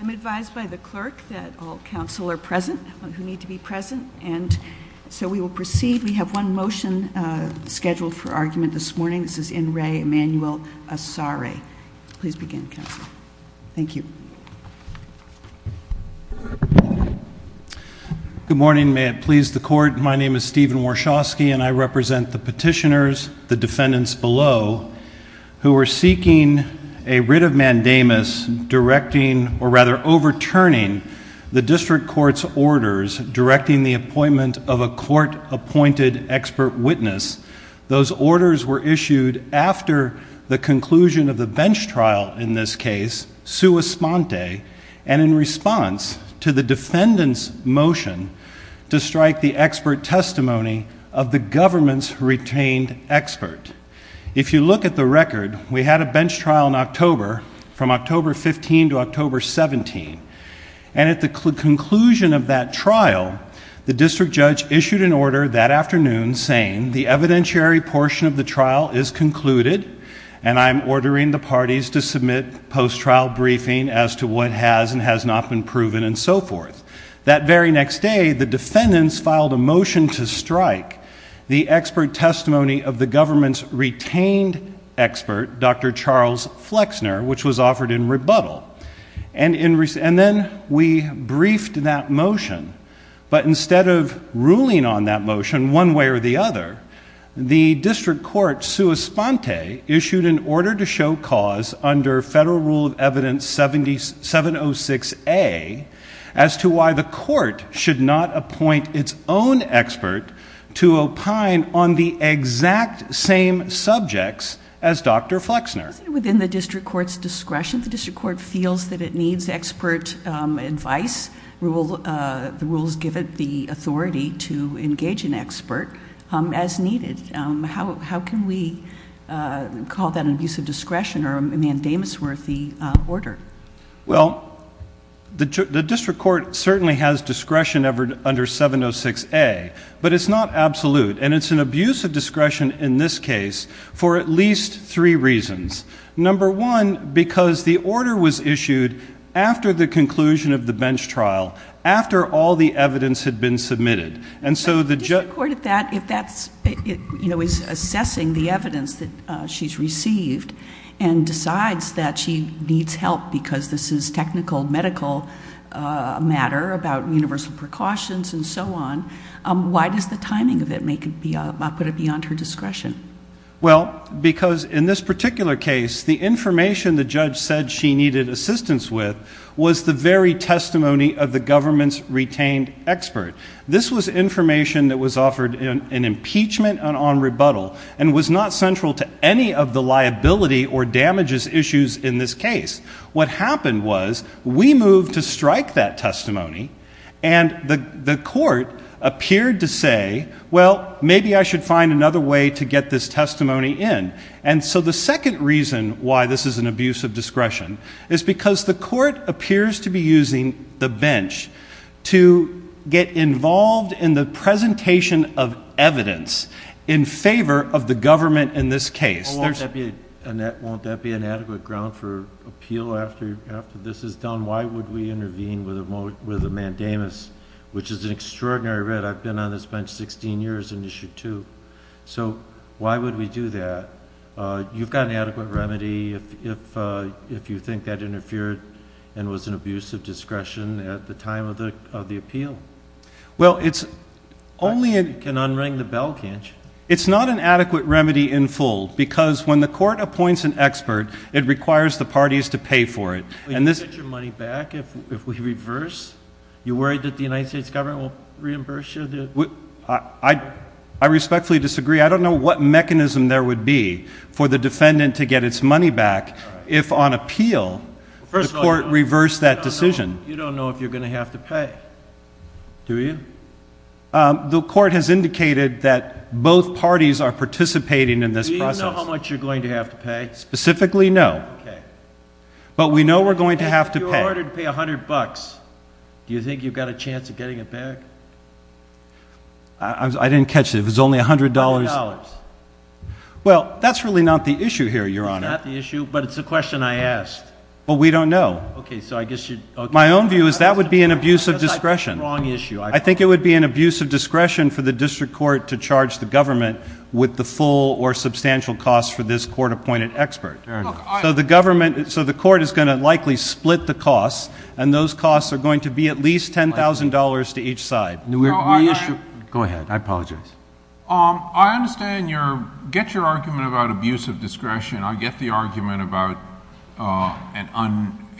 I'm advised by the clerk that all counsel are present who need to be present and so we will proceed. We have one motion Scheduled for argument this morning. This is in re Emmanuel Asare. Please begin counsel. Thank you Good morning, may it please the court. My name is Stephen Warshawski and I represent the petitioners the defendants below Who are seeking a writ of mandamus? Directing or rather overturning the district court's orders Directing the appointment of a court appointed expert witness Those orders were issued after the conclusion of the bench trial in this case sua sponte and in response to the defendants motion To strike the expert testimony of the government's retained expert If you look at the record we had a bench trial in October from October 15 to October 17 and at the conclusion of that trial the district judge issued an order that afternoon saying the evidentiary portion of the trial is Concluded and I'm ordering the parties to submit Post-trial briefing as to what has and has not been proven and so forth that very next day the defendants filed a motion to strike The expert testimony of the government's retained expert dr. Charles Flexner Which was offered in rebuttal and in recent then we briefed that motion But instead of ruling on that motion one way or the other the district court sua sponte issued an order to show cause under federal rule of evidence 70 706 a As to why the court should not appoint its own expert to opine on the exact same Subjects as dr. Flexner within the district courts discretion the district court feels that it needs expert advice rule The rules give it the authority to engage an expert as needed. How can we? Call that an abuse of discretion or a mandamus worthy order. Well The district court certainly has discretion ever under 706 a but it's not absolute and it's an abuse of discretion In this case for at least three reasons Number one because the order was issued after the conclusion of the bench trial after all the evidence had been submitted and so the judge recorded that if that's you know is assessing the evidence that she's received and Decides that she needs help because this is technical medical Matter about universal precautions and so on. Why does the timing of it make it be about put it beyond her discretion? Well because in this particular case the information the judge said she needed assistance with was the very testimony of the government's retained expert this was information that was offered in an impeachment and on rebuttal and was not central to any of the Reliability or damages issues in this case. What happened was we moved to strike that testimony and the the court appeared to say well Maybe I should find another way to get this testimony in and so the second reason why this is an abuse of discretion Is because the court appears to be using the bench to get involved in the presentation of evidence in Favor of the government in this case there's and that won't that be an adequate ground for appeal after after this is done Why would we intervene with a moment with a mandamus which is an extraordinary read? I've been on this bench 16 years in issue 2 so why would we do that? You've got an adequate remedy if if if you think that interfered and was an abuse of discretion at the time of the of the appeal well, it's Only it can unring the bell can't you it's not an adequate remedy in full because when the court appoints an expert it Requires the parties to pay for it, and this is your money back if we reverse You worried that the United States government will reimburse you what I I respectfully disagree I don't know what mechanism there would be for the defendant to get its money back if on appeal First court reversed that decision you don't know if you're gonna have to pay Do you? The court has indicated that both parties are participating in this process how much you're going to have to pay specifically no But we know we're going to have to pay a hundred bucks. Do you think you've got a chance of getting it back I? Didn't catch it was only a hundred dollars Well, that's really not the issue here. You're on at the issue, but it's a question. I asked well We don't know okay, so I guess you my own view is that would be an abuse of discretion wrong issue I think it would be an abuse of discretion for the district court to charge the government With the full or substantial cost for this court appointed expert So the government so the court is going to likely split the costs and those costs are going to be at least ten thousand dollars To each side no issue go ahead. I apologize um I understand your get your argument about abuse of discretion I'll get the argument about And on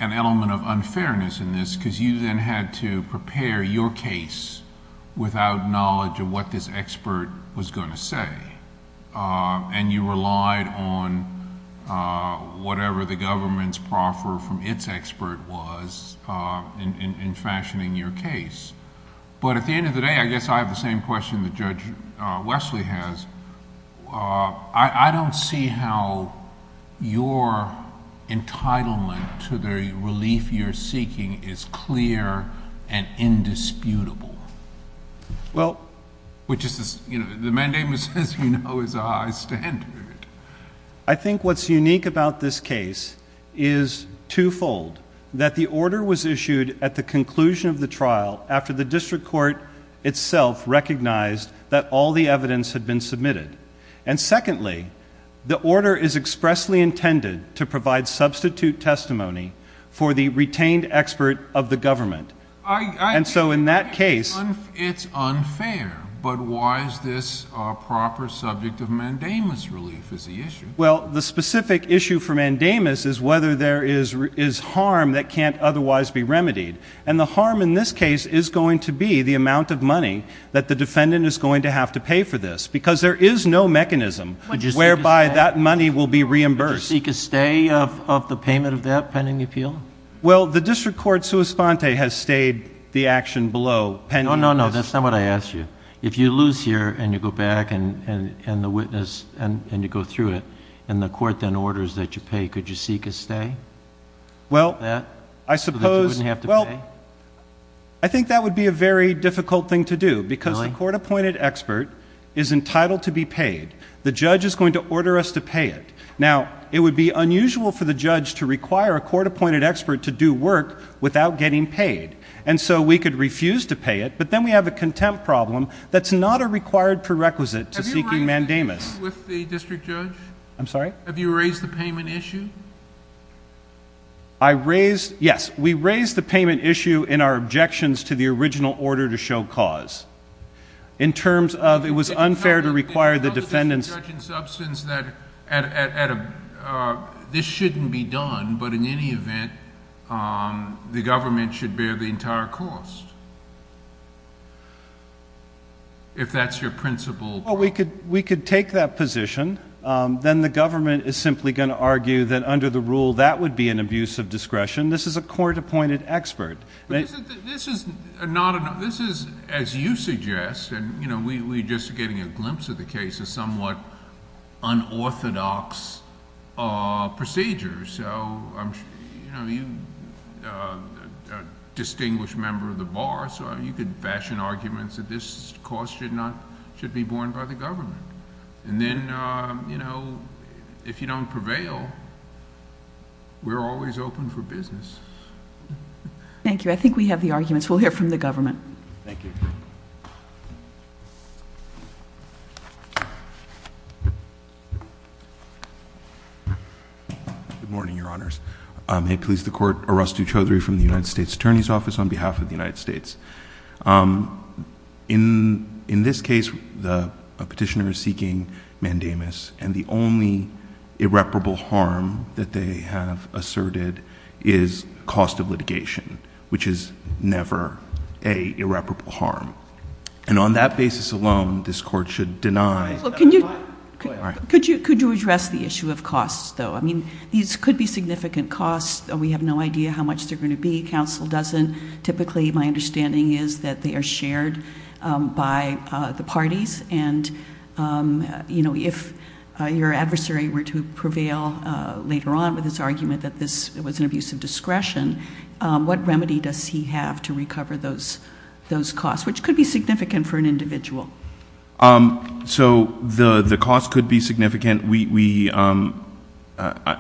an element of unfairness in this because you then had to prepare your case Without knowledge of what this expert was going to say and you relied on Whatever the government's proffer from its expert was In fashioning your case, but at the end of the day. I guess I have the same question the judge Wesley has I don't see how Your entitlement to the relief you're seeking is clear and indisputable Well, which is you know the mandamus as you know is a high standard. I think what's unique about this case is Twofold that the order was issued at the conclusion of the trial after the district court itself recognized that all the evidence had been submitted and Intended to provide substitute testimony for the retained expert of the government and so in that case It's unfair, but why is this a proper subject of mandamus relief is the issue well the specific issue for? Mandamus is whether there is is harm that can't otherwise be remedied and the harm in this case is going to be the amount Of money that the defendant is going to have to pay for this because there is no mechanism Whereby that money will be reimbursed he could stay of the payment of that pending appeal Well the district court sua sponte has stayed the action below and no no no that's not what I asked you if you lose Here and you go back and and and the witness and and you go through it and the court then orders that you pay Could you seek a stay? well, I suppose you have to well I Think that would be a very difficult thing to do because the court appointed expert is Going to order us to pay it now It would be unusual for the judge to require a court-appointed expert to do work without getting paid And so we could refuse to pay it, but then we have a contempt problem. That's not a required prerequisite to seeking mandamus I'm sorry have you raised the payment issue I? Raised yes, we raised the payment issue in our objections to the original order to show cause in Substance that at a This shouldn't be done, but in any event The government should bear the entire cost If that's your principle, but we could we could take that position Then the government is simply going to argue that under the rule that would be an abuse of discretion This is a court-appointed expert This is not enough. This is as you suggest and you know we just getting a glimpse of the case is somewhat unorthodox Procedures so Distinguished member of the bar so you could fashion arguments that this cost should not should be borne by the government and then You know if you don't prevail We're always open for business Thank you. I think we have the arguments. We'll hear from the government. Thank you Good Morning your honors may please the court or us do chowdhury from the United States Attorney's Office on behalf of the United States In in this case the petitioner is seeking mandamus and the only irreparable harm that they have asserted is cost of litigation Which is never a irreparable harm and on that basis alone this court should deny Could you could you address the issue of costs though? I mean these could be significant costs We have no idea how much they're going to be counsel doesn't typically my understanding is that they are shared by the parties and You know if your adversary were to prevail later on with this argument that this it was an abuse of discretion What remedy does he have to recover those those costs which could be significant for an individual? So the the cost could be significant we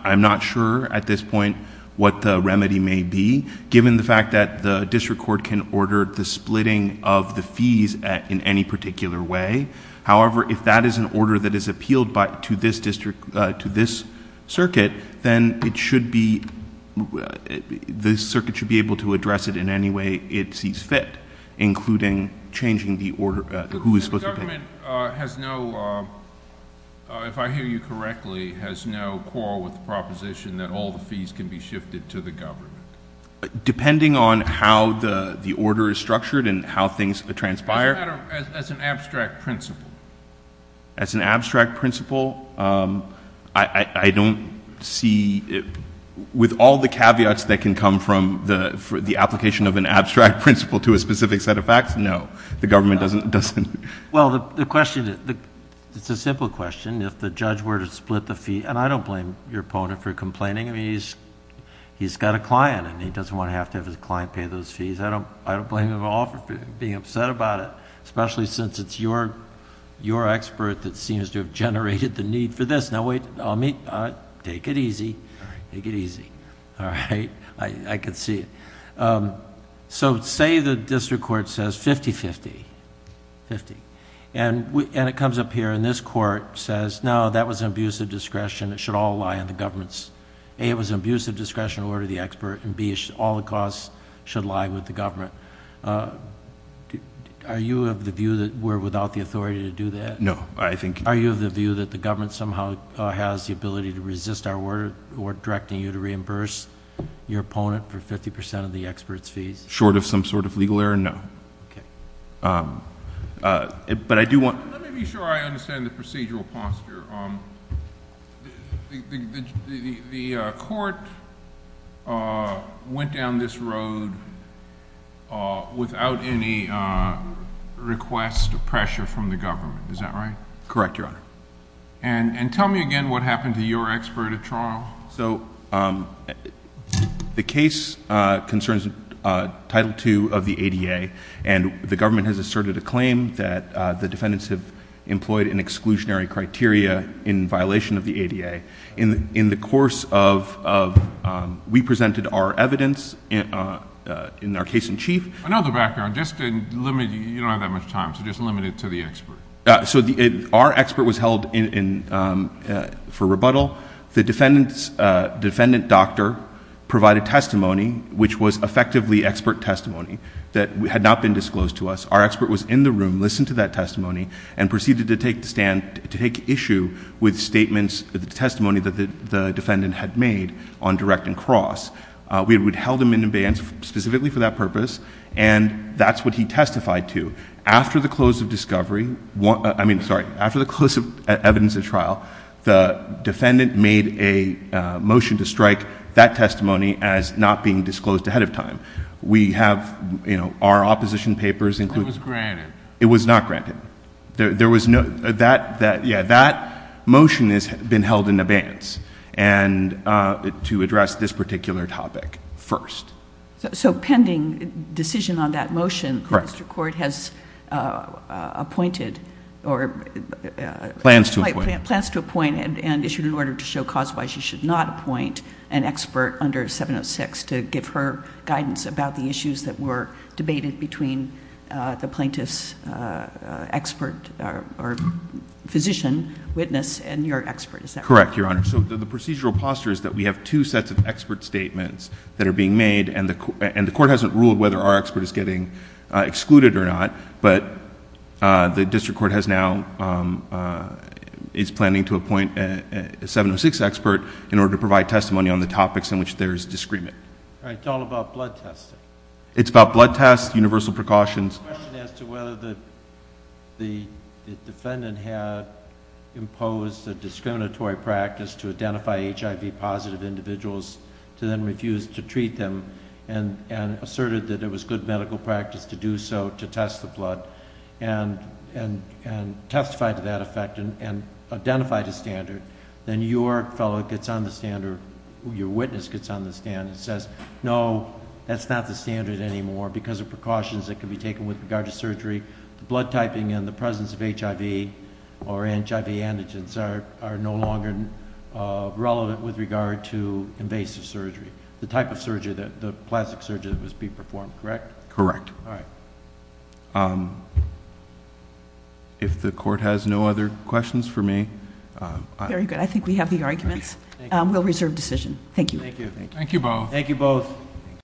I'm not sure at this point What the remedy may be given the fact that the district court can order the splitting of the fees in any particular way? however, if that is an order that is appealed by to this district to this circuit, then it should be This circuit should be able to address it in any way it sees fit including changing the order who is supposed to If I hear you correctly has no quarrel with the proposition that all the fees can be shifted to the government Depending on how the the order is structured and how things transpire As an abstract principle I don't see it with all the caveats that can come from the Application of an abstract principle to a specific set of facts. No, the government doesn't doesn't well the question It's a simple question if the judge were to split the fee and I don't blame your opponent for complaining. I mean, he's He's got a client and he doesn't want to have to have his client pay those fees I don't I don't blame them all for being upset about it, especially since it's your Your expert that seems to have generated the need for this now wait, I'll meet take it easy. Take it easy All right, I could see So say the district court says 50-50 50 and we and it comes up here and this court says no that was an abusive discretion It should all lie in the government's a it was an abusive discretion order the expert and B All the costs should lie with the government Do are you of the view that we're without the authority to do that? No I think are you of the view that the government somehow has the ability to resist our word or directing you to reimburse? Your opponent for 50% of the experts fees short of some sort of legal error. No But I do want The court Went down this road without any Request of pressure from the government. Is that right? Correct your honor and and tell me again what happened to your expert at trial. So The case concerns title 2 of the ADA and the government has asserted a claim that the defendants have employed an exclusionary criteria in violation of the ADA in in the course of We presented our evidence In our case-in-chief another background just So the our expert was held in for rebuttal the defendants defendant doctor Provided testimony, which was effectively expert testimony that we had not been disclosed to us Our expert was in the room listened to that testimony and proceeded to take the stand to take issue with Statements the testimony that the defendant had made on direct and cross We would held him in abeyance specifically for that purpose And that's what he testified to after the close of discovery what I mean, sorry after the close of evidence of trial the defendant made a Motion to strike that testimony as not being disclosed ahead of time. We have you know, our opposition papers and It was not granted. There was no that that yeah, that motion has been held in abeyance and To address this particular topic first, so pending decision on that motion record has Appointed or Plans to appoint plans to appoint and issued in order to show cause why she should not appoint an expert under 706 to give her guidance about the issues that were debated between the plaintiffs Expert or So the procedural posture is that we have two sets of expert statements that are being made and the and the court hasn't ruled whether our expert is getting excluded or not, but the district court has now It's planning to appoint a 706 expert in order to provide testimony on the topics in which there is discriminant It's about blood tests universal precautions As to whether the the defendant had imposed a discriminatory practice to identify HIV positive individuals to then refuse to treat them and and asserted that it was good medical practice to do so to test the blood and and testified to that effect and Identified a standard then your fellow gets on the standard your witness gets on the stand and says no That's not the standard anymore because of precautions that can be taken with regard to surgery the blood typing and the presence of HIV or HIV antigens are are no longer Relevant with regard to invasive surgery the type of surgery that the plastic surgery must be performed, correct? Correct. All right If the court has no other questions for me Very good. I think we have the arguments will reserve decision. Thank you. Thank you. Thank you both. Thank you both Thank you